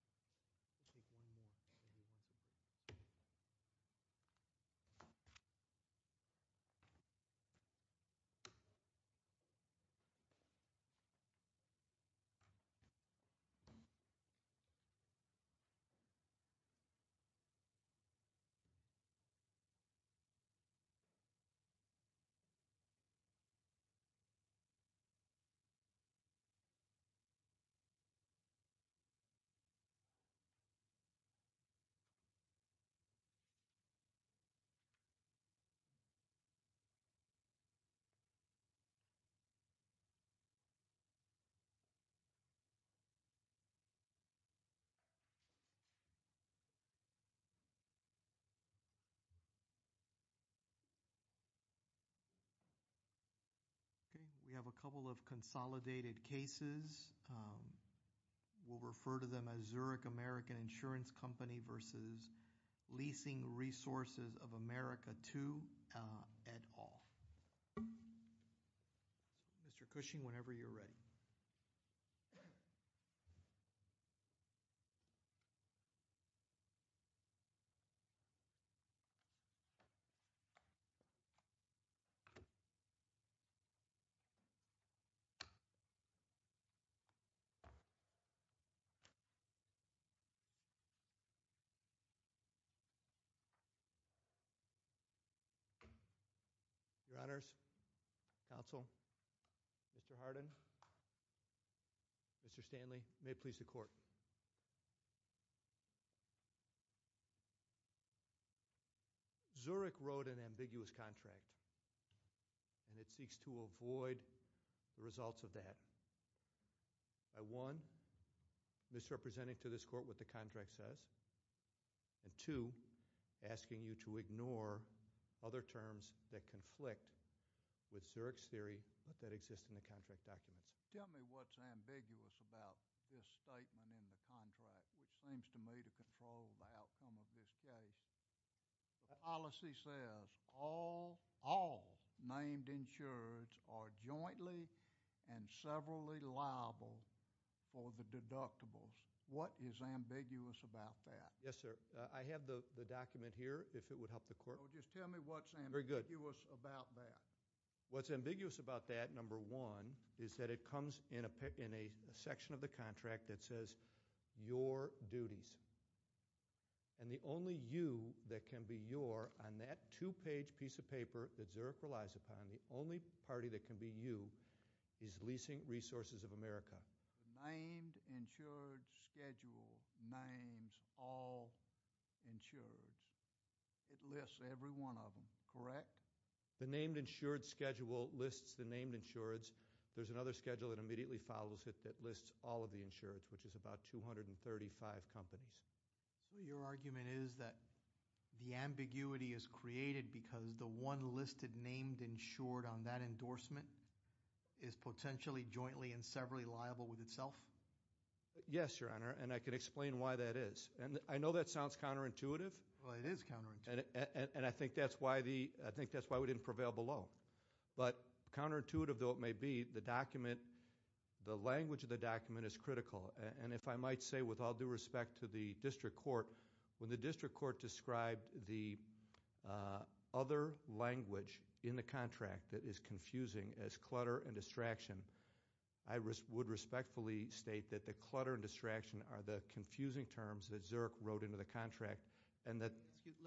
I'll take one more. Okay, we have a couple of consolidated cases. We'll refer to them as Zurich American Insurance Company versus Leasing Resources of America 2 at all. Mr. Cushing, whenever you're ready. Your Honors, Counsel, Mr. Hardin, Mr. Stanley, Mr. Cushing, Mr. Cushing, Mr. Hardin, Mr. Stanley, may it please the Court. Zurich wrote an ambiguous contract, and it seeks to avoid the results of that by, one, misrepresenting to this Court what the contract says, and, two, asking you to ignore other terms that conflict with Zurich's theory but that exist in the contract documents. Tell me what's ambiguous about this statement in the contract, which seems to me to control the outcome of this case. The policy says all named insurers are jointly and severally liable for the deductibles. What is ambiguous about that? Yes, sir. I have the document here, if it would help the Court. Just tell me what's ambiguous about that. Very good. What's ambiguous about that, number one, is that it comes in a section of the contract that says your duties, and the only you that can be your on that two-page piece of paper that Zurich relies upon, the only party that can be you, is Leasing Resources of America. Named insured schedule names all insurers. It lists every one of them, correct? The named insured schedule lists the named insureds. There's another schedule that immediately follows it that lists all of the insureds, which is about 235 companies. So your argument is that the ambiguity is created because the one listed named insured on that endorsement is potentially jointly and severally liable with itself? Yes, Your Honor, and I can explain why that is. I know that sounds counterintuitive. Well, it is counterintuitive. And I think that's why we didn't prevail below. But counterintuitive though it may be, the language of the document is critical. And if I might say, with all due respect to the District Court, when the District Court described the other language in the contract that is confusing as clutter and distraction, I would respectfully state that the clutter and distraction Let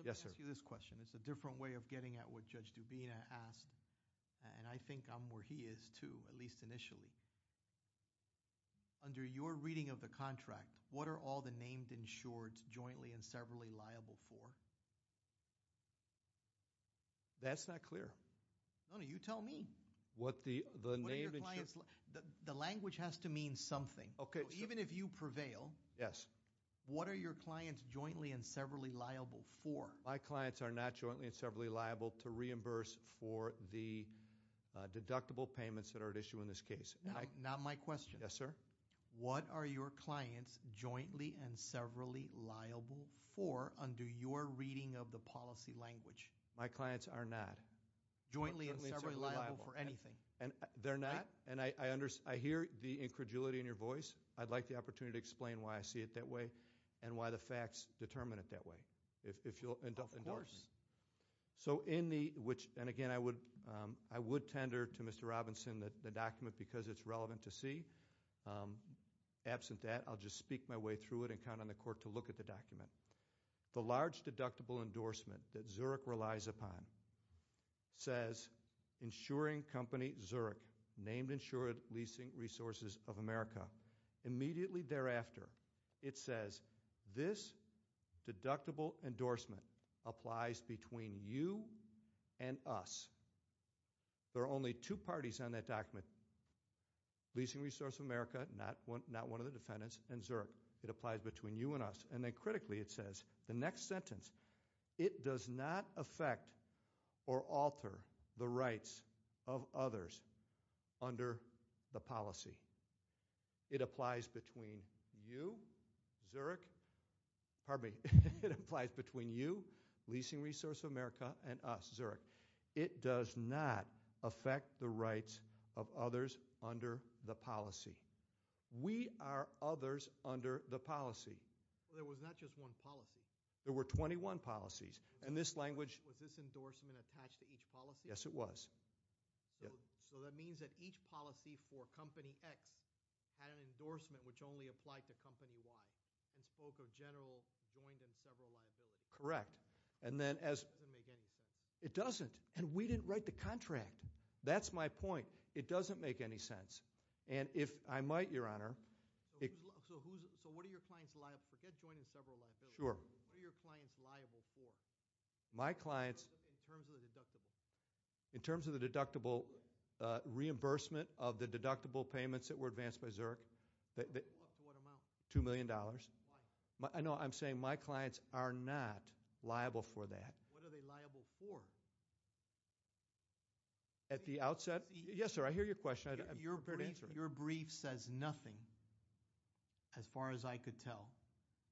me ask you this question. It's a different way of getting at what Judge Dubina asked, and I think I'm where he is too, at least initially. Under your reading of the contract, what are all the named insureds jointly and severally liable for? That's not clear. No, no, you tell me. What the named insureds The language has to mean something. Okay. Even if you prevail, Yes. What are your clients jointly and severally liable for? My clients are not jointly and severally liable to reimburse for the deductible payments that are at issue in this case. Not my question. Yes, sir. What are your clients jointly and severally liable for under your reading of the policy language? My clients are not. Jointly and severally liable for anything. They're not, and I hear the incredulity in your voice. I'd like the opportunity to explain why I see it that way and why the facts determine it that way, if you'll endorse me. Of course. So in the, which, and again, I would tender to Mr. Robinson the document because it's relevant to see. Absent that, I'll just speak my way through it and count on the court to look at the document. The large deductible endorsement that Zurich relies upon says, Insuring Company Zurich, named Insured Leasing Resources of America. Immediately thereafter, it says, This deductible endorsement applies between you and us. There are only two parties on that document, Leasing Resource of America, not one of the defendants, and Zurich. It applies between you and us. And then critically it says, the next sentence, It does not affect or alter the rights of others under the policy. It applies between you, Zurich. Pardon me. It applies between you, Leasing Resource of America, and us, Zurich. It does not affect the rights of others under the policy. We are others under the policy. There was not just one policy. There were 21 policies. Was this endorsement attached to each policy? Yes, it was. So that means that each policy for Company X had an endorsement which only applied to Company Y and spoke of general joint and several liabilities. Correct. It doesn't make any sense. It doesn't. And we didn't write the contract. That's my point. It doesn't make any sense. And if I might, Your Honor. So what are your clients' liabilities? Forget joint and several liabilities. Sure. What are your clients liable for in terms of the deductible? In terms of the deductible reimbursement of the deductible payments that were advanced by Zurich. Up to what amount? $2 million. Why? No, I'm saying my clients are not liable for that. What are they liable for? At the outset? Yes, sir. I hear your question. I'm prepared to answer it. Your brief says nothing, as far as I could tell,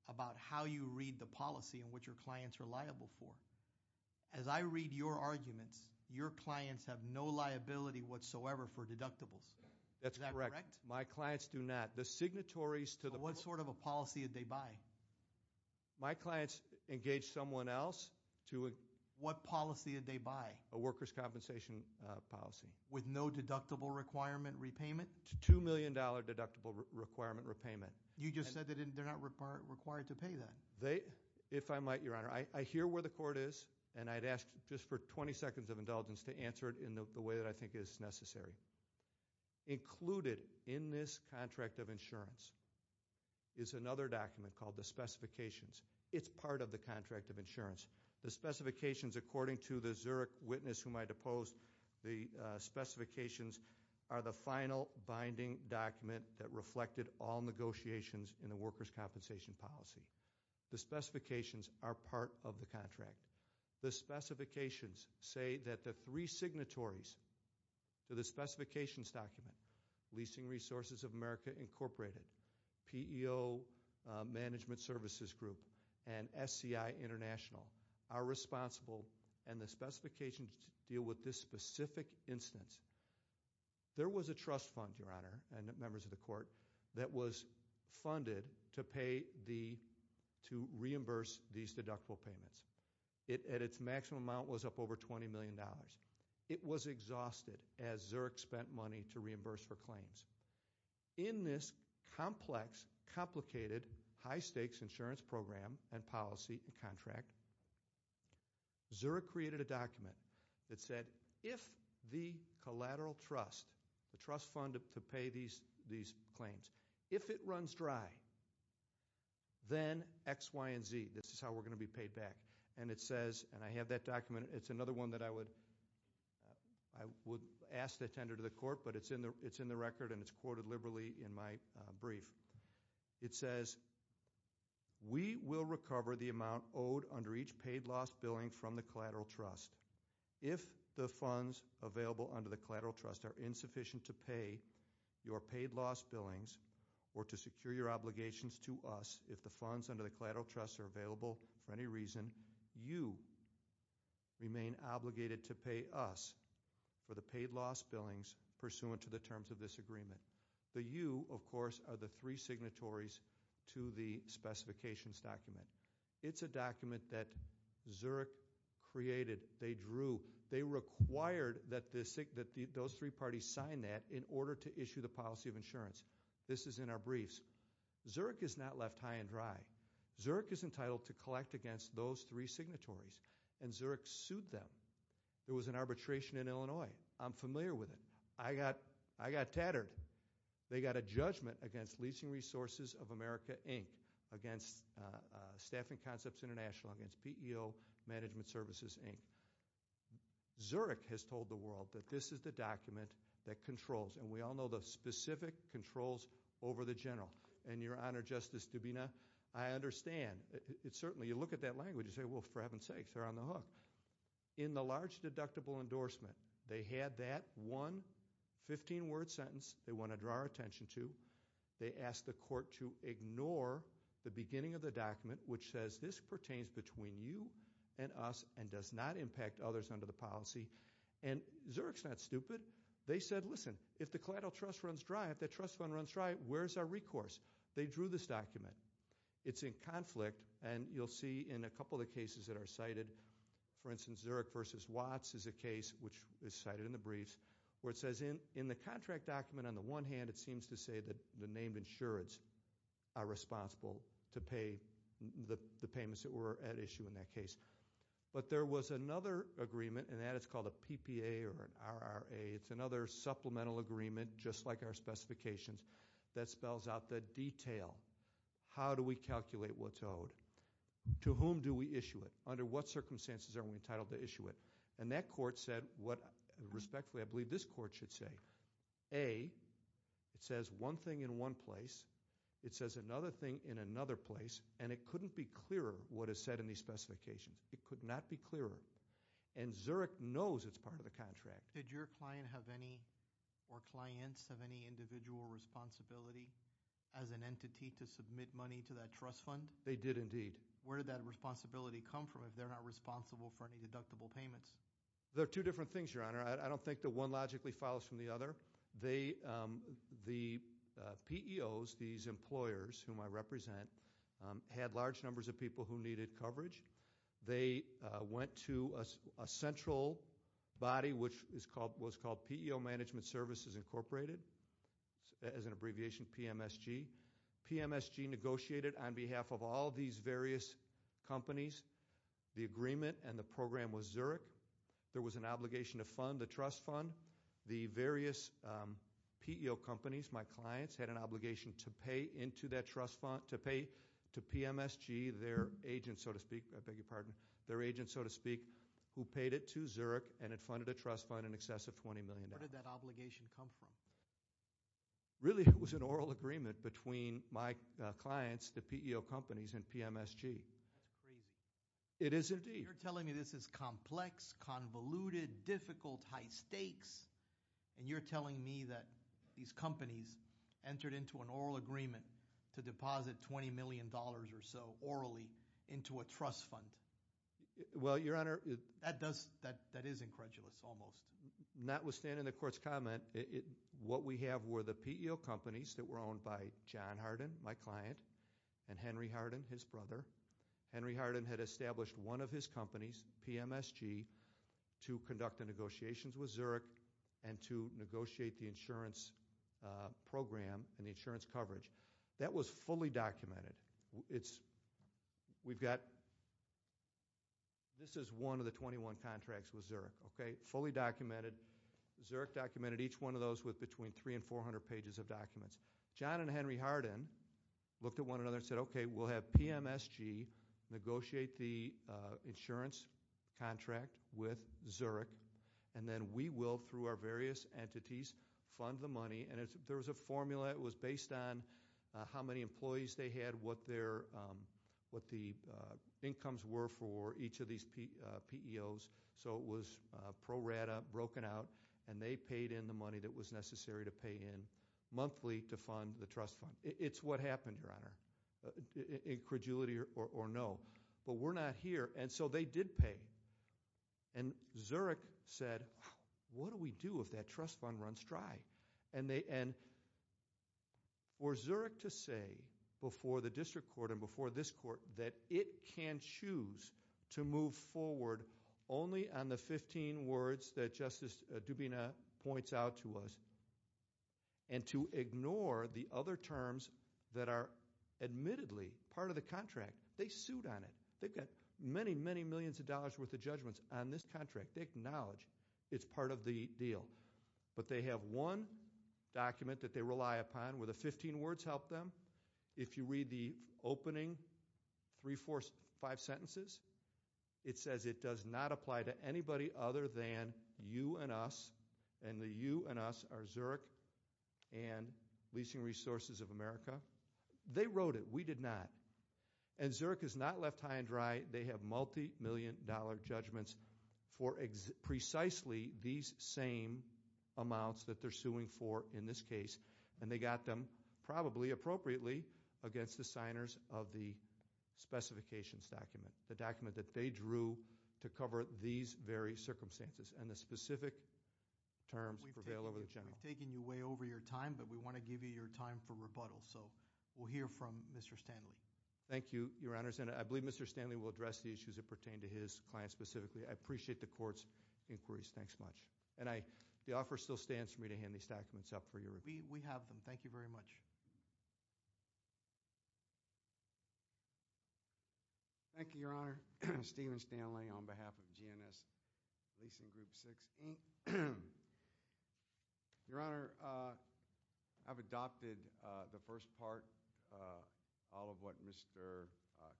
about how you read the policy and what your clients are liable for. As I read your arguments, your clients have no liability whatsoever for deductibles. That's correct. Is that correct? My clients do not. The signatories to the policy. What sort of a policy did they buy? My clients engaged someone else to a – What policy did they buy? A workers' compensation policy. With no deductible requirement repayment? $2 million deductible requirement repayment. You just said they're not required to pay that. If I might, Your Honor, I hear where the court is, and I'd ask just for 20 seconds of indulgence to answer it in the way that I think is necessary. Included in this contract of insurance is another document called the specifications. It's part of the contract of insurance. The specifications, according to the Zurich witness whom I deposed, the specifications are the final binding document that reflected all negotiations in the workers' compensation policy. The specifications are part of the contract. The specifications say that the three signatories to the specifications document, Leasing Resources of America Incorporated, PEO Management Services Group, and SCI International are responsible, and the specifications deal with this specific instance. There was a trust fund, Your Honor, and members of the court, that was funded to pay the – to reimburse these deductible payments. Its maximum amount was up over $20 million. It was exhausted as Zurich spent money to reimburse for claims. In this complex, complicated, high-stakes insurance program and policy contract, Zurich created a document that said if the collateral trust, the trust fund to pay these claims, if it runs dry, then X, Y, and Z. This is how we're going to be paid back. And it says – and I have that document. It's another one that I would ask to attend to the court, but it's in the record, and it's quoted liberally in my brief. It says, We will recover the amount owed under each paid loss billing from the collateral trust. If the funds available under the collateral trust are insufficient to pay your paid loss billings or to secure your obligations to us, if the funds under the collateral trust are available for any reason, you remain obligated to pay us for the paid loss billings pursuant to the terms of this agreement. The you, of course, are the three signatories to the specifications document. It's a document that Zurich created. They drew – they required that those three parties sign that in order to issue the policy of insurance. This is in our briefs. Zurich is not left high and dry. Zurich is entitled to collect against those three signatories, and Zurich sued them. There was an arbitration in Illinois. I'm familiar with it. I got tattered. They got a judgment against Leasing Resources of America, Inc., against Staffing Concepts International, against PEO Management Services, Inc. Zurich has told the world that this is the document that controls, and we all know the specific controls over the general. Your Honor, Justice Dubina, I understand. Certainly, you look at that language and say, well, for heaven's sakes, they're on the hook. In the large deductible endorsement, they had that one 15-word sentence they want to draw our attention to. They asked the court to ignore the beginning of the document, which says this pertains between you and us and does not impact others under the policy. Zurich's not stupid. They said, listen, if the collateral trust runs dry, if that trust fund runs dry, where's our recourse? They drew this document. It's in conflict, and you'll see in a couple of the cases that are cited, for instance, Zurich v. Watts is a case which is cited in the briefs, where it says in the contract document, on the one hand, it seems to say that the named insureds are responsible to pay the payments that were at issue in that case. But there was another agreement, and that is called a PPA or an RRA. It's another supplemental agreement, just like our specifications, that spells out the detail. How do we calculate what's owed? To whom do we issue it? Under what circumstances are we entitled to issue it? And that court said what, respectfully, I believe this court should say, A, it says one thing in one place, it says another thing in another place, and it couldn't be clearer what is said in these specifications. It could not be clearer. And Zurich knows it's part of the contract. Did your client have any, or clients, have any individual responsibility as an entity to submit money to that trust fund? They did, indeed. Where did that responsibility come from if they're not responsible for any deductible payments? They're two different things, Your Honor. I don't think that one logically follows from the other. The PEOs, these employers whom I represent, had large numbers of people who needed coverage. They went to a central body, which was called PEO Management Services Incorporated, as an abbreviation, PMSG. PMSG negotiated on behalf of all these various companies. The agreement and the program was Zurich. There was an obligation to fund the trust fund. The various PEO companies, my clients, had an obligation to pay into that trust fund, to PMSG, their agents, so to speak, I beg your pardon, their agents, so to speak, who paid it to Zurich and had funded a trust fund in excess of $20 million. Where did that obligation come from? Really, it was an oral agreement between my clients, the PEO companies, and PMSG. That's crazy. It is, indeed. You're telling me this is complex, convoluted, difficult, high stakes, and you're telling me that these companies entered into an oral agreement to deposit $20 million or so orally into a trust fund. Well, Your Honor, that is incredulous almost. Notwithstanding the court's comment, what we have were the PEO companies that were owned by John Hardin, my client, and Henry Hardin, his brother. Henry Hardin had established one of his companies, PMSG, to conduct the negotiations with Zurich and to negotiate the insurance program and the insurance coverage. That was fully documented. It's, we've got, this is one of the 21 contracts with Zurich, okay, fully documented. Zurich documented each one of those with between 300 and 400 pages of documents. John and Henry Hardin looked at one another and said, okay, we'll have PMSG negotiate the insurance contract with Zurich. And then we will, through our various entities, fund the money. And there was a formula. It was based on how many employees they had, what the incomes were for each of these PEOs. So it was pro rata, broken out, and they paid in the money that was necessary to pay in monthly to fund the trust fund. It's what happened, Your Honor, incredulity or no. But we're not here. And so they did pay. And Zurich said, what do we do if that trust fund runs dry? And for Zurich to say before the district court and before this court that it can choose to move forward only on the 15 words that Justice Dubina points out to us and to ignore the other terms that are admittedly part of the contract, they sued on it. They've got many, many millions of dollars' worth of judgments on this contract. They acknowledge it's part of the deal. But they have one document that they rely upon where the 15 words help them. If you read the opening three, four, five sentences, it says it does not apply to anybody other than you and us, and the you and us are Zurich and Leasing Resources of America. They wrote it. We did not. And Zurich has not left high and dry. They have multi-million dollar judgments for precisely these same amounts that they're suing for in this case. And they got them, probably appropriately, against the signers of the specifications document, the document that they drew to cover these very circumstances. And the specific terms prevail over the general. We've taken you way over your time, but we want to give you your time for rebuttal. So we'll hear from Mr. Stanley. Thank you, Your Honors. And I believe Mr. Stanley will address the issues that pertain to his client specifically. I appreciate the court's inquiries. Thanks much. And the offer still stands for me to hand these documents up for your review. We have them. Thank you very much. Thank you, Your Honor. Stephen Stanley on behalf of GNS Leasing Group 6. Your Honor, I've adopted the first part. All of what Mr.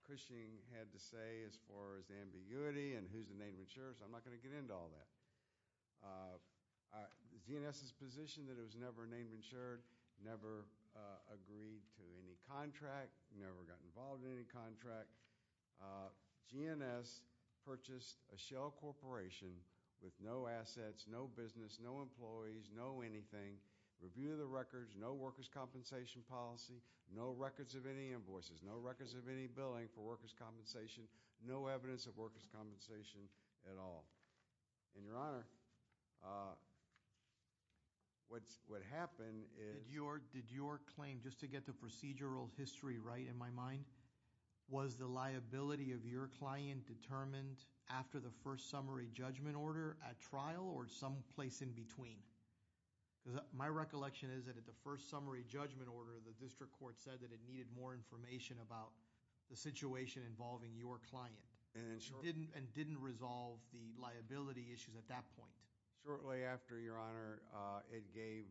Cushing had to say as far as ambiguity and who's the name of insurer. So I'm not going to get into all that. GNS's position that it was never a name of insurer, never agreed to any contract, never got involved in any contract. GNS purchased a shell corporation with no assets, no business, no employees, no anything, review of the records, no workers' compensation policy, no records of any invoices, no records of any billing for workers' compensation, no evidence of workers' compensation at all. And, Your Honor, what happened is— Did your claim, just to get the procedural history right in my mind, was the liability of your client determined after the first summary judgment order at trial or someplace in between? Because my recollection is that at the first summary judgment order, the district court said that it needed more information about the situation involving your client. And didn't resolve the liability issues at that point. Shortly after, Your Honor, it gave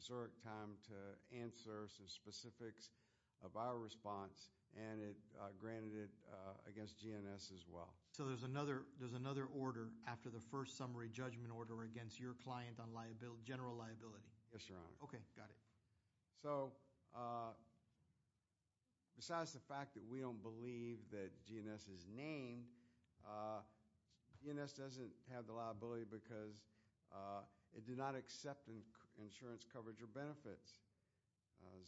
Zurich time to answer some specifics of our response. And it granted it against GNS as well. So there's another order after the first summary judgment order against your client on general liability? Yes, Your Honor. Okay, got it. So, besides the fact that we don't believe that GNS is named, GNS doesn't have the liability because it did not accept insurance coverage or benefits.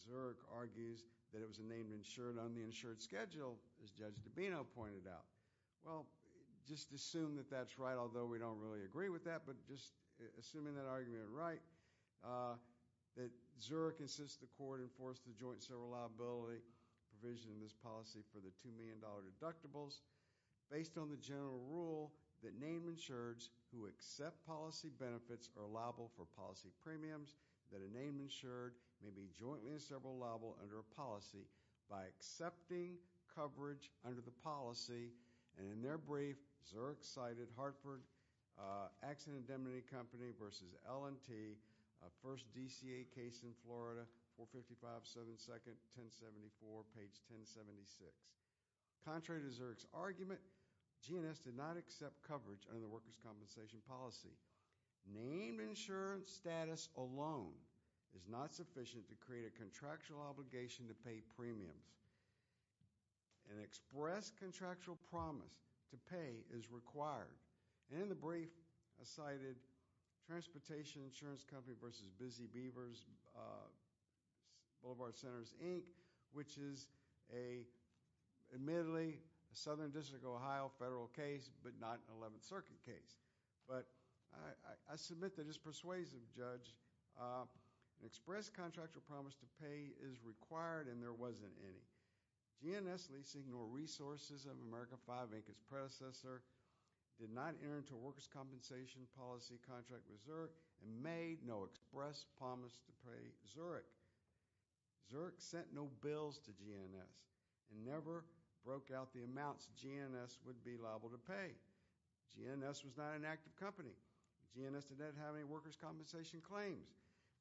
Zurich argues that it was a name insured on the insured schedule, as Judge DiBino pointed out. Well, just assume that that's right, although we don't really agree with that, but just assuming that argument is right, that Zurich insists the court enforce the joint civil liability provision in this policy for the $2 million deductibles based on the general rule that name insureds who accept policy benefits are liable for policy premiums, that a name insured may be jointly in several liable under a policy by accepting coverage under the policy. And in their brief, Zurich cited Hartford Accident and Demony Company v. L&T, a first DCA case in Florida, 455 Southern 2nd, 1074, page 1076. Contrary to Zurich's argument, GNS did not accept coverage under the workers' compensation policy. Name insurance status alone is not sufficient to create a contractual obligation to pay premiums. An express contractual promise to pay is required. And in the brief, I cited Transportation Insurance Company v. Busy Beavers, Boulevard Centers, Inc., which is a, admittedly, a Southern District of Ohio federal case, but not an 11th Circuit case. But I submit that as persuasive, Judge, an express contractual promise to pay is required, and there wasn't any. GNS leasing or resources of America 5, Inc., its predecessor, did not enter into a workers' compensation policy contract with Zurich and made no express promise to pay Zurich. Zurich sent no bills to GNS and never broke out the amounts GNS would be liable to pay. GNS was not an active company. GNS did not have any workers' compensation claims.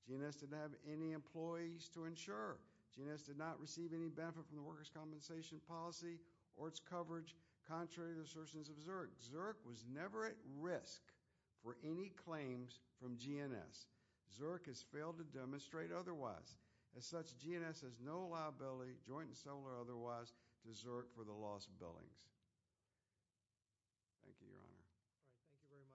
GNS did not have any employees to insure. GNS did not receive any benefit from the workers' compensation policy or its coverage, contrary to the assertions of Zurich. Zurich was never at risk for any claims from GNS. Zurich has failed to demonstrate otherwise. As such, GNS has no liability, joint and sole or otherwise, to Zurich for the lost billings. Thank you, Your Honor. Thank you very much.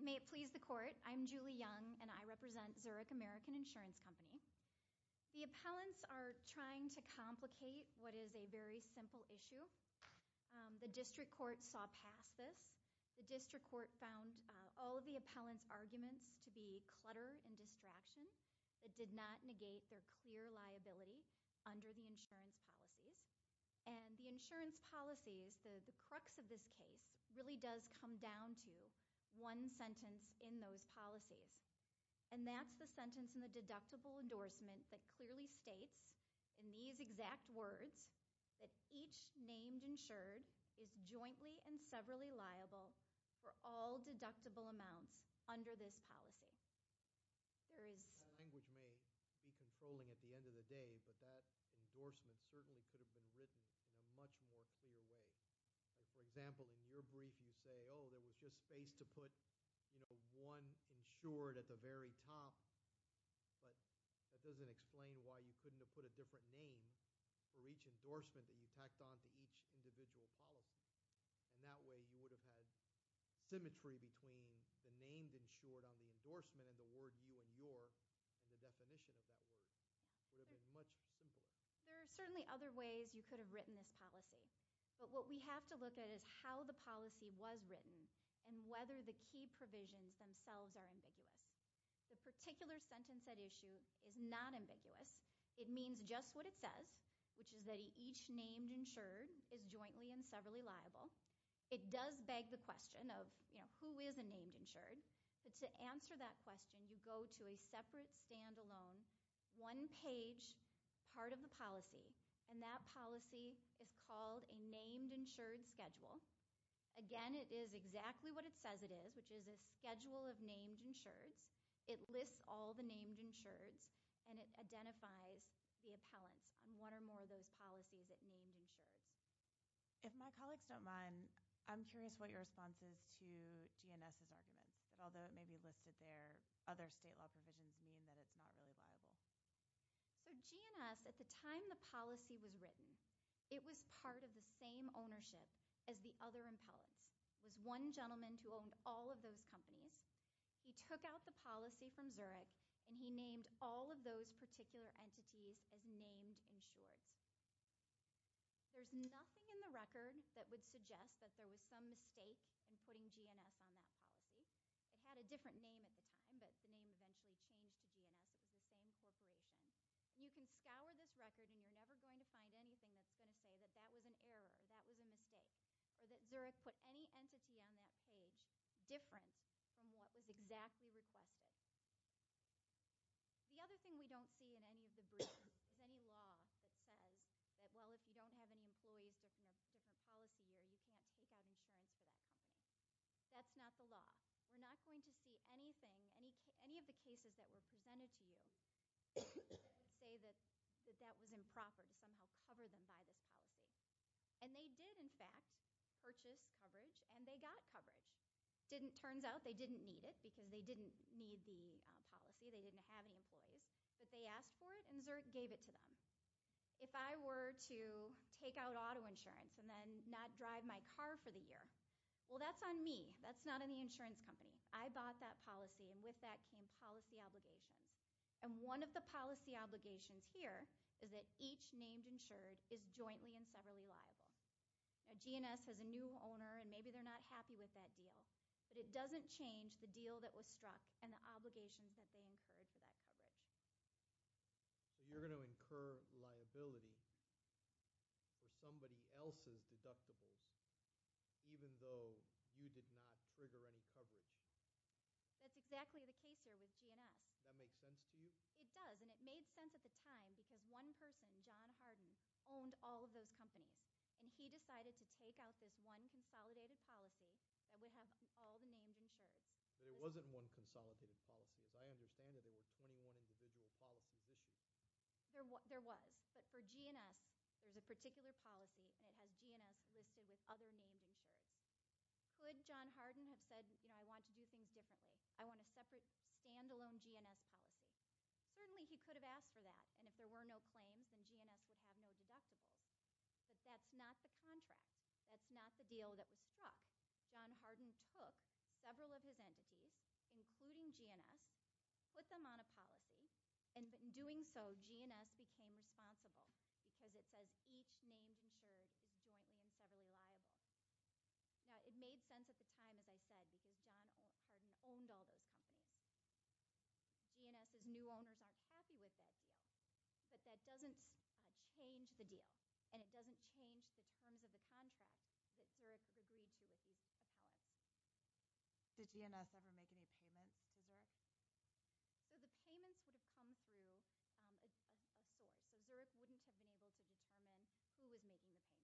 May it please the Court. I'm Julie Young, and I represent Zurich American Insurance Company. The appellants are trying to complicate what is a very simple issue. The district court saw past this. The district court found all of the appellants' arguments to be clutter and distraction. It did not negate their clear liability under the insurance policies. And the insurance policies, the crux of this case, really does come down to one sentence in those policies. And that's the sentence in the deductible endorsement that clearly states, in these exact words, that each named insured is jointly and severally liable for all deductible amounts under this policy. There is- That language may be controlling at the end of the day, but that endorsement certainly could have been written in a much more clear way. For example, in your brief, you say, oh, there was just space to put, you know, one insured at the very top. But that doesn't explain why you couldn't have put a different name for each endorsement that you tacked on to each individual policy. And that way, you would have had symmetry between the name insured on the endorsement and the word you and your and the definition of that word. It would have been much simpler. There are certainly other ways you could have written this policy. But what we have to look at is how the policy was written and whether the key provisions themselves are ambiguous. The particular sentence at issue is not ambiguous. It means just what it says, which is that each named insured is jointly and severally liable. It does beg the question of, you know, who is a named insured? But to answer that question, you go to a separate, stand-alone, one-page part of the policy, and that policy is called a named insured schedule. Again, it is exactly what it says it is, which is a schedule of named insureds. It lists all the named insureds, and it identifies the appellants on one or more of those policies at named insureds. If my colleagues don't mind, I'm curious what your response is to GNS's argument, that although it may be listed there, other state law provisions mean that it's not really liable. So GNS, at the time the policy was written, it was part of the same ownership as the other appellants. It was one gentleman who owned all of those companies. He took out the policy from Zurich, and he named all of those particular entities as named insureds. There's nothing in the record that would suggest that there was some mistake in putting GNS on that policy. It had a different name at the time, but the name eventually changed to GNS. It was the same corporation. You can scour this record, and you're never going to find anything that's going to say that that was an error, that was a mistake, or that Zurich put any entity on that page different from what was exactly requested. The other thing we don't see in any of the briefs is any law that says that, well, if you don't have any employees with a different policy, you can't take out insurance for that. That's not the law. We're not going to see anything, any of the cases that were presented to you, say that that was improper to somehow cover them by this policy. And they did, in fact, purchase coverage, and they got coverage. Turns out they didn't need it because they didn't need the policy. They didn't have any employees. But they asked for it, and Zurich gave it to them. If I were to take out auto insurance and then not drive my car for the year, well, that's on me. That's not in the insurance company. I bought that policy, and with that came policy obligations. And one of the policy obligations here is that each named insured is jointly and severally liable. Now, G&S has a new owner, and maybe they're not happy with that deal, but it doesn't change the deal that was struck and the obligations that they incurred for that coverage. So you're going to incur liability for somebody else's deductibles even though you did not trigger any coverage? That's exactly the case here with G&S. Does that make sense to you? It does, and it made sense at the time because one person, John Harden, owned all of those companies. And he decided to take out this one consolidated policy that would have all the named insured. But it wasn't one consolidated policy. As I understand it, there were 21 individual policy issues. There was. But for G&S, there's a particular policy, and it has G&S listed with other named insured. Could John Harden have said, you know, I want to do things differently? I want a separate, standalone G&S policy? Certainly he could have asked for that, and if there were no claims, then G&S would have no deductibles. But that's not the contract. That's not the deal that was struck. John Harden took several of his entities, including G&S, put them on a policy, and in doing so, G&S became responsible because it says each named insured is jointly and severally liable. Now, it made sense at the time, as I said, because John Harden owned all those companies. G&S's new owners aren't happy with that deal. But that doesn't change the deal, and it doesn't change the terms of the contract that Zurich agreed to with these appellants. Did G&S ever make any payments to Zurich? No, the payments would have come through a source. So Zurich wouldn't have been able to determine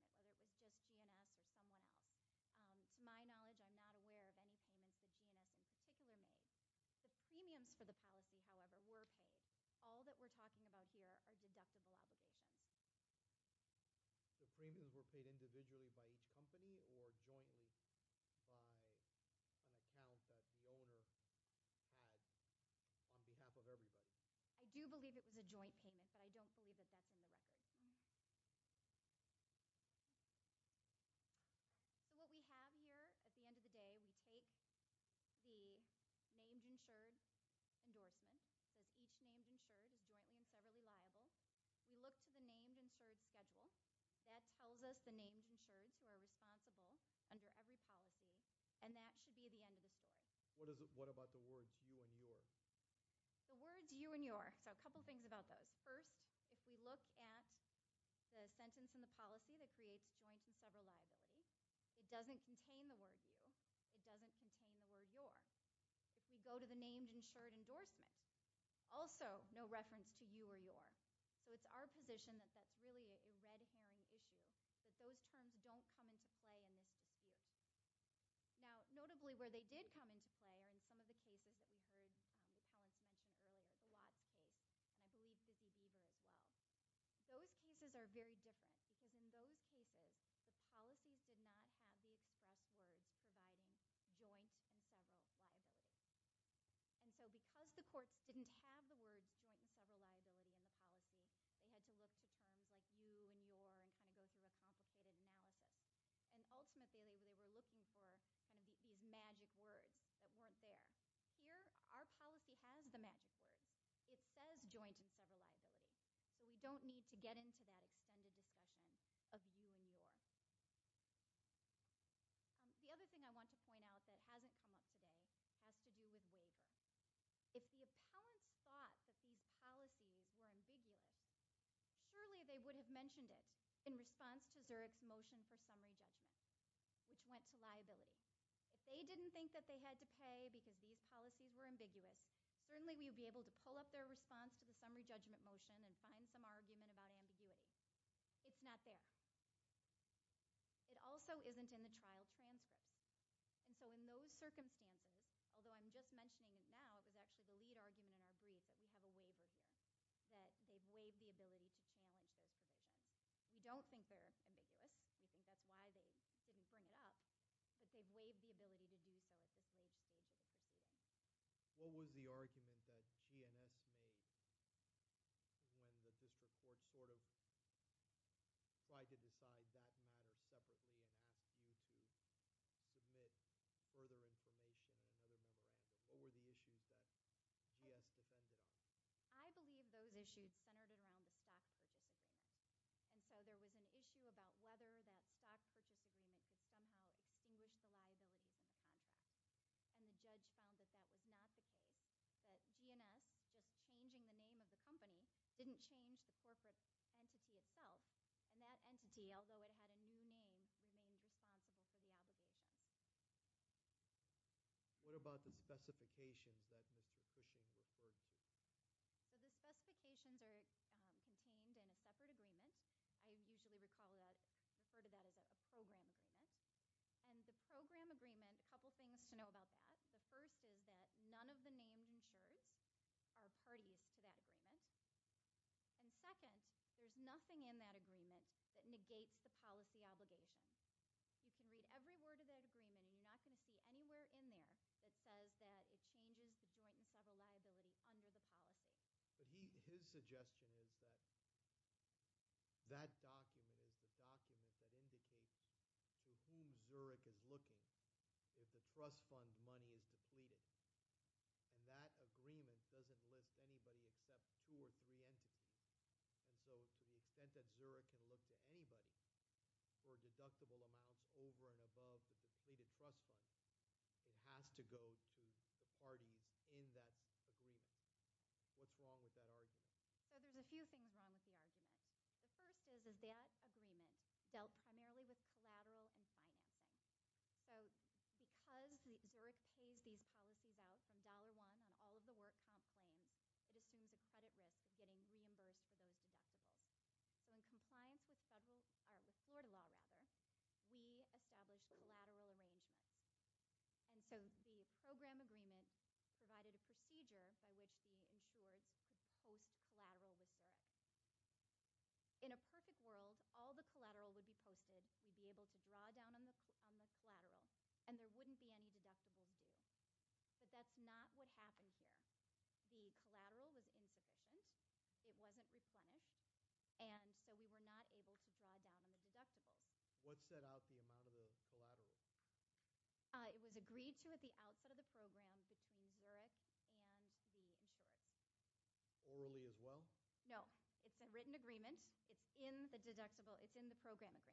who was making the payment, whether it was just G&S or someone else. To my knowledge, I'm not aware of any payments that G&S in particular made. The premiums for the policy, however, were paid. All that we're talking about here are deductible obligations. I do believe it was a joint payment, but I don't believe that that's in the record. So what we have here at the end of the day, we take the named insured endorsement, because each named insured is jointly and severally liable. We look to the named insured schedule. That tells us the named insureds who are responsible under every policy, and that should be the end of the story. What about the words you and your? The words you and your, so a couple things about those. First, if we look at the sentence in the policy that creates joint and several liabilities, it doesn't contain the word you. It doesn't contain the word your. If we go to the named insured endorsement, also no reference to you or your. So it's our position that that's really a red herring issue, that those terms don't come into play in this dispute. Now, notably where they did come into play are in some of the cases that we heard from the commentators earlier, the lot case. I believe this would be there as well. Those cases are very different, because in those cases, the policies did not have the express words providing joint and several liabilities. And so because the courts didn't have the words joint and several liability in the policy, they had to look to terms like you and your and kind of go through a complicated analysis. And ultimately, they were looking for kind of these magic words that weren't there. Here, our policy has the magic words. It says joint and several liabilities, so we don't need to get into that extended discussion of you and your. The other thing I want to point out that hasn't come up today has to do with waiver. If the appellants thought that these policies were ambiguous, surely they would have mentioned it in response to Zurich's motion for summary judgment, which went to liability. If they didn't think that they had to pay because these policies were ambiguous, certainly we would be able to pull up their response to the summary judgment motion and find some argument about ambiguity. It's not there. It also isn't in the trial transcript. And so in those circumstances, although I'm just mentioning it now, it was actually the lead argument in our brief that we have a waiver here, that they've waived the ability to challenge those conditions. We don't think they're ambiguous. We think that's why they didn't bring it up. But they've waived the ability to do so. What was the argument that GNS made when the district court sort of tried to decide that matter separately and asked you to submit further information and other material? What were the issues that GS defended? I believe those issues centered around the stock purchase agreement. And so there was an issue about whether that stock purchase agreement could somehow extinguish the liability of the contract. And the judge found that that was not the case, that GNS, with changing the name of the company, didn't change the corporate entity itself, and that entity, although it had a new name, remained responsible for the obligation. What about the specifications that Mr. Cushing referred to? The specifications are contained in a separate agreement. I usually refer to that as a program agreement. And the program agreement, a couple things to know about that. The first is that none of the named insurers are parties to that agreement. And second, there's nothing in that agreement that negates the policy obligation. You can read every word of that agreement, and you're not going to see anywhere in there that says that it changes the joint and several liability under the policy. His suggestion is that that document is the document that indicates to whom Zurich is looking if the trust fund money is depleted. And that agreement doesn't list anybody except two or three entities. And so to the extent that Zurich can look to anybody for deductible amounts over and above the depleted trust fund, it has to go to the party in that agreement. What's wrong with that argument? So there's a few things wrong with the argument. The first is that that agreement dealt primarily with collateral and financing. So because Zurich pays these policies out from dollar one on all of the work complaints, it assumes a credit risk of getting reimbursed for those deductibles. So in compliance with Florida law, rather, we established a collateral arrangement. And so the program agreement provided a procedure by which we ensured post-collateral with Zurich. In a perfect world, all the collateral would be posted. We'd be able to draw down on this collateral, and there wouldn't be any deductibles due. But that's not what happened here. The collateral was insufficient. It wasn't replenished. And so we were not able to draw down on the deductibles. What set out the amount of the collateral? It was agreed to at the outset of the program between Zurich and the insurer. Orally as well? No. It's a written agreement. It's in the program agreement.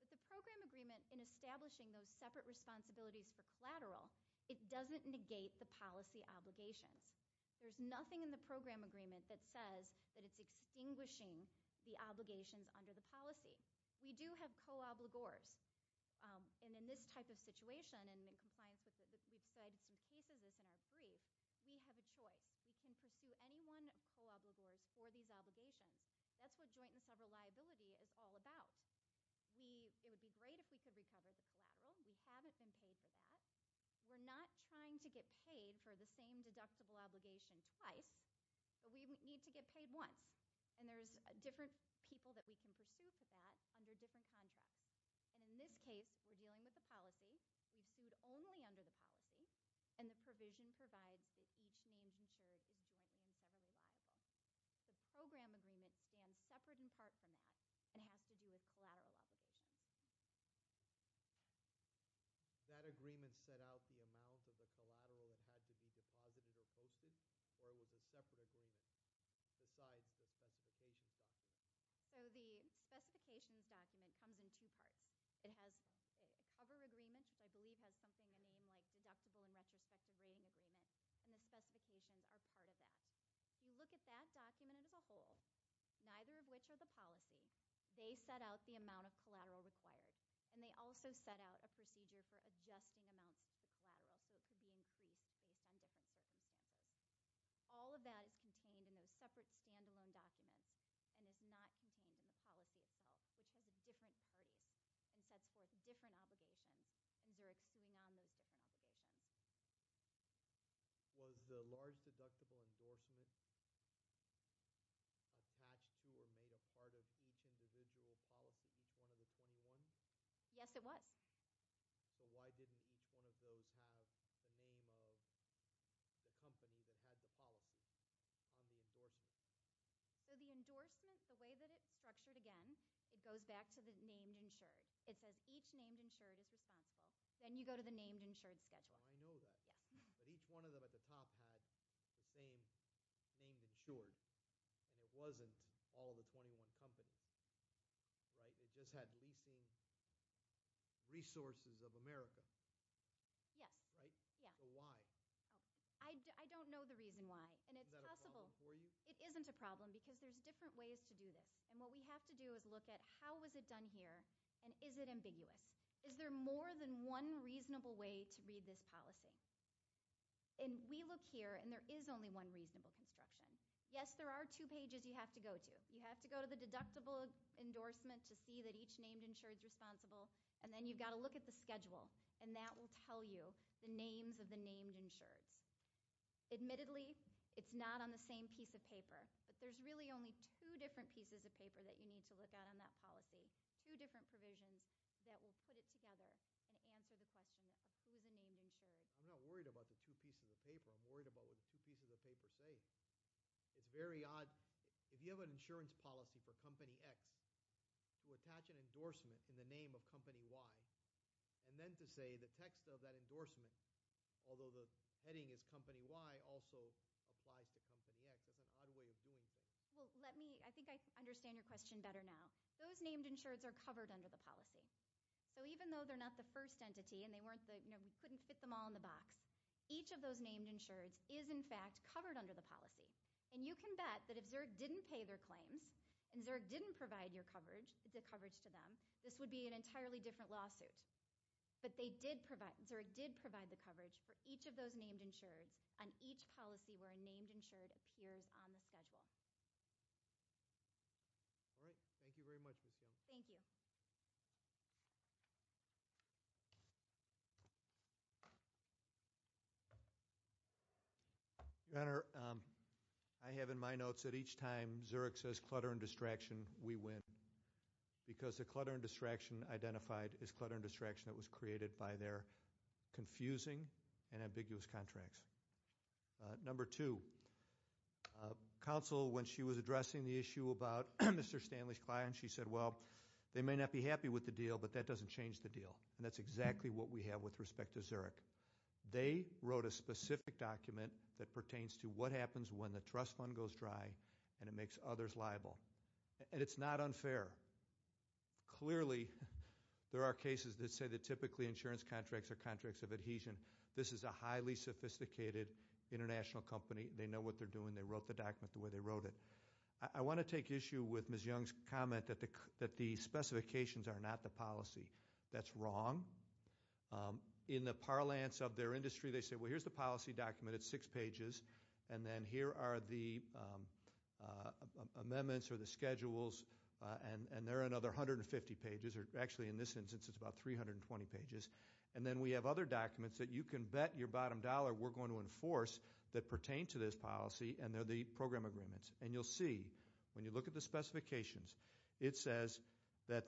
But the program agreement in establishing those separate responsibilities for collateral, it doesn't negate the policy obligations. There's nothing in the program agreement that says that it's extinguishing the obligations under the policy. We do have co-obligors. And in this type of situation, and in compliance with it, we've said some pieces of this in our brief, we have a choice. We can pursue any one of co-obligors for these obligations. That's what joint and several liability is all about. It would be great if we could recover the collateral. We haven't been paid for that. We're not trying to get paid for the same deductible obligation twice, but we need to get paid once. And there's different people that we can pursue for that under different contracts. And in this case, we're dealing with the policy. We've sued only under the policy. And the provision provides that each name in Zurich is given in several liabilities. The program agreement stands separate in part from that and has to do with collateral obligations. That agreement set out the amount of the collateral that had to be deposited or posted, or it was a separate agreement besides the specifications document? So the specifications document comes in two parts. It has a cover agreement, which I believe has something in the name like deductible and retrospective rating agreement, and the specifications are part of that. If you look at that document as a whole, neither of which are the policy, they set out the amount of collateral required, and they also set out a procedure for adjusting amounts of the collateral so it could be increased based on differences. All of that is contained in those separate stand-alone documents and is not contained in the policy itself, which has different parties and sets forth different obligations under a key non-basic obligation. Was the large deductible endorsement attached to or made a part of each individual policy, each one of the 21? Yes, it was. So why didn't each one of those have the name of the company that had the policy on the endorsement? So the endorsement, the way that it's structured, again, it goes back to the named insured. It says each named insured is responsible. Then you go to the named insured schedule. I know that. But each one of them at the top had the same named insured. It wasn't all of the 21 companies. It just had leasing resources of America. Yes. Right? So why? I don't know the reason why. Is that a problem for you? It isn't a problem because there's different ways to do this. And what we have to do is look at how was it done here, and is it ambiguous? Is there more than one reasonable way to read this policy? And we look here, and there is only one reasonable construction. Yes, there are two pages you have to go to. You have to go to the deductible endorsement to see that each named insured is responsible, and then you've got to look at the schedule, and that will tell you the names of the named insureds. But there's really only two different pieces of paper that you need to look at on that policy, two different provisions that will put it together and answer the question of who the named insureds are. I'm not worried about the two pieces of paper. I'm worried about what the two pieces of paper say. It's very odd. If you have an insurance policy for Company X to attach an endorsement in the name of Company Y and then to say the text of that endorsement, although the heading is Company Y, also applies to Company X, that's an odd way of doing things. I think I understand your question better now. Those named insureds are covered under the policy. So even though they're not the first entity and we couldn't fit them all in the box, each of those named insureds is, in fact, covered under the policy. And you can bet that if Zurich didn't pay their claims and Zurich didn't provide the coverage to them, this would be an entirely different lawsuit. But Zurich did provide the coverage for each of those named insureds on each policy where a named insured appears on the schedule. All right. Thank you very much, Ms. Jones. Thank you. Your Honor, I have in my notes that each time Zurich says clutter and distraction, we win because the clutter and distraction identified is clutter and distraction that was created by their confusing and ambiguous contracts. Number two, counsel, when she was addressing the issue about Mr. Stanley's client, she said, well, they may not be happy with the deal, but that doesn't change the deal. And that's exactly what we have with respect to Zurich. They wrote a specific document that pertains to what happens when the trust fund goes dry and it makes others liable. And it's not unfair. Clearly, there are cases that say that typically insurance contracts are contracts of adhesion. This is a highly sophisticated international company. They know what they're doing. They wrote the document the way they wrote it. I want to take issue with Ms. Young's comment that the specifications are not the policy. That's wrong. In the parlance of their industry, they say, well, here's the policy document. It's six pages. And then here are the amendments or the schedules, and there are another 150 pages. Actually, in this instance, it's about 320 pages. And then we have other documents that you can bet your bottom dollar we're going to enforce that pertain to this policy, and they're the program agreements. And you'll see, when you look at the specifications, it says that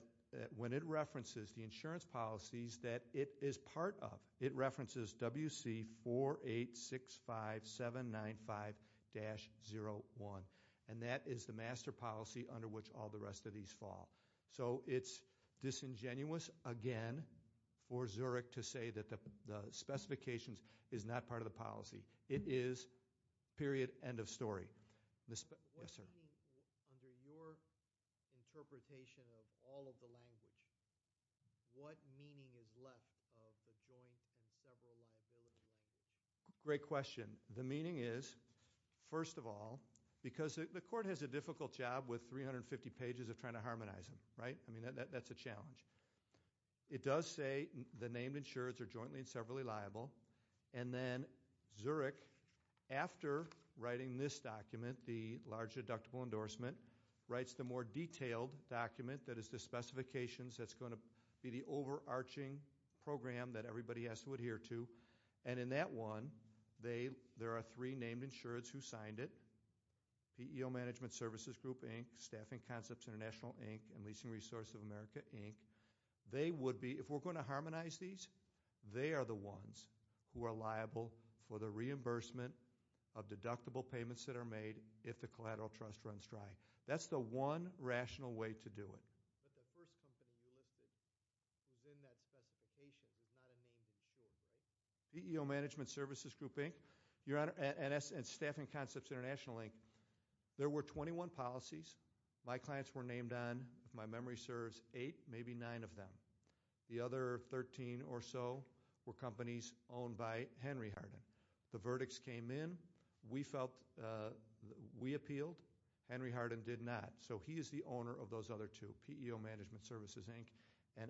when it references the insurance policies that it is part of, it references WC4865795-01. And that is the master policy under which all the rest of these fall. So it's disingenuous, again, for Zurich to say that the specifications is not part of the policy. It is period, end of story. Yes, sir. Under your interpretation of all of the language, what meaning is left of the joint and several liability language? Great question. The meaning is, first of all, because the court has a difficult job with 350 pages of trying to harmonize them, right? I mean, that's a challenge. It does say the named insureds are jointly and severally liable. And then Zurich, after writing this document, the large deductible endorsement, writes the more detailed document that is the specifications that's going to be the overarching program that everybody has to adhere to. And in that one, there are three named insureds who signed it, PEO Management Services Group, Inc., Staffing Concepts International, Inc., and Leasing Resource of America, Inc. If we're going to harmonize these, they are the ones who are liable for the reimbursement of deductible payments that are made if the collateral trust runs dry. That's the one rational way to do it. PEO Management Services Group, Inc., and Staffing Concepts International, Inc., there were 21 policies. My clients were named on, if my memory serves, eight, maybe nine of them. The other 13 or so were companies owned by Henry Hardin. The verdicts came in. We appealed. Henry Hardin did not, so he is the owner of those other two, PEO Management Services, Inc., and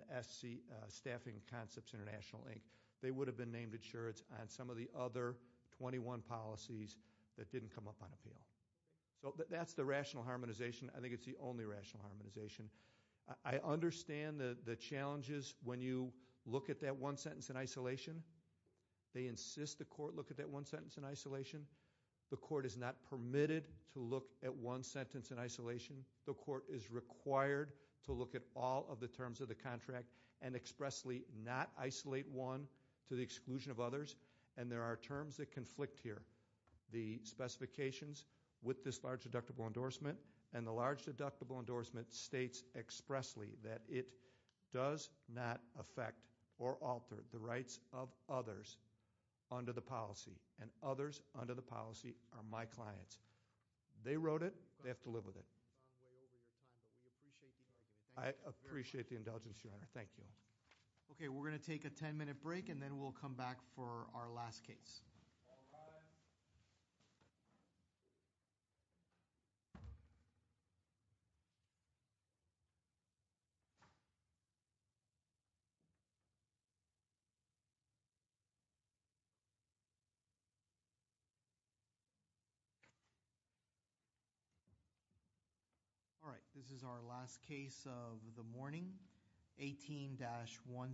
Staffing Concepts International, Inc. They would have been named insureds on some of the other 21 policies that didn't come up on appeal. That's the rational harmonization. I think it's the only rational harmonization. I understand the challenges when you look at that one sentence in isolation. They insist the court look at that one sentence in isolation. The court is not permitted to look at one sentence in isolation. The court is required to look at all of the terms of the contract and expressly not isolate one to the exclusion of others, and there are terms that conflict here. The specifications with this large deductible endorsement and the large deductible endorsement states expressly that it does not affect or alter the rights of others under the policy, and others under the policy are my clients. They wrote it. They have to live with it. You've gone way over your time, but we appreciate the indulgence. I appreciate the indulgence, Your Honor. Thank you. Okay, we're going to take a 10-minute break, and then we'll come back for our last case. All rise. All right, this is our last case of the morning, 18-13.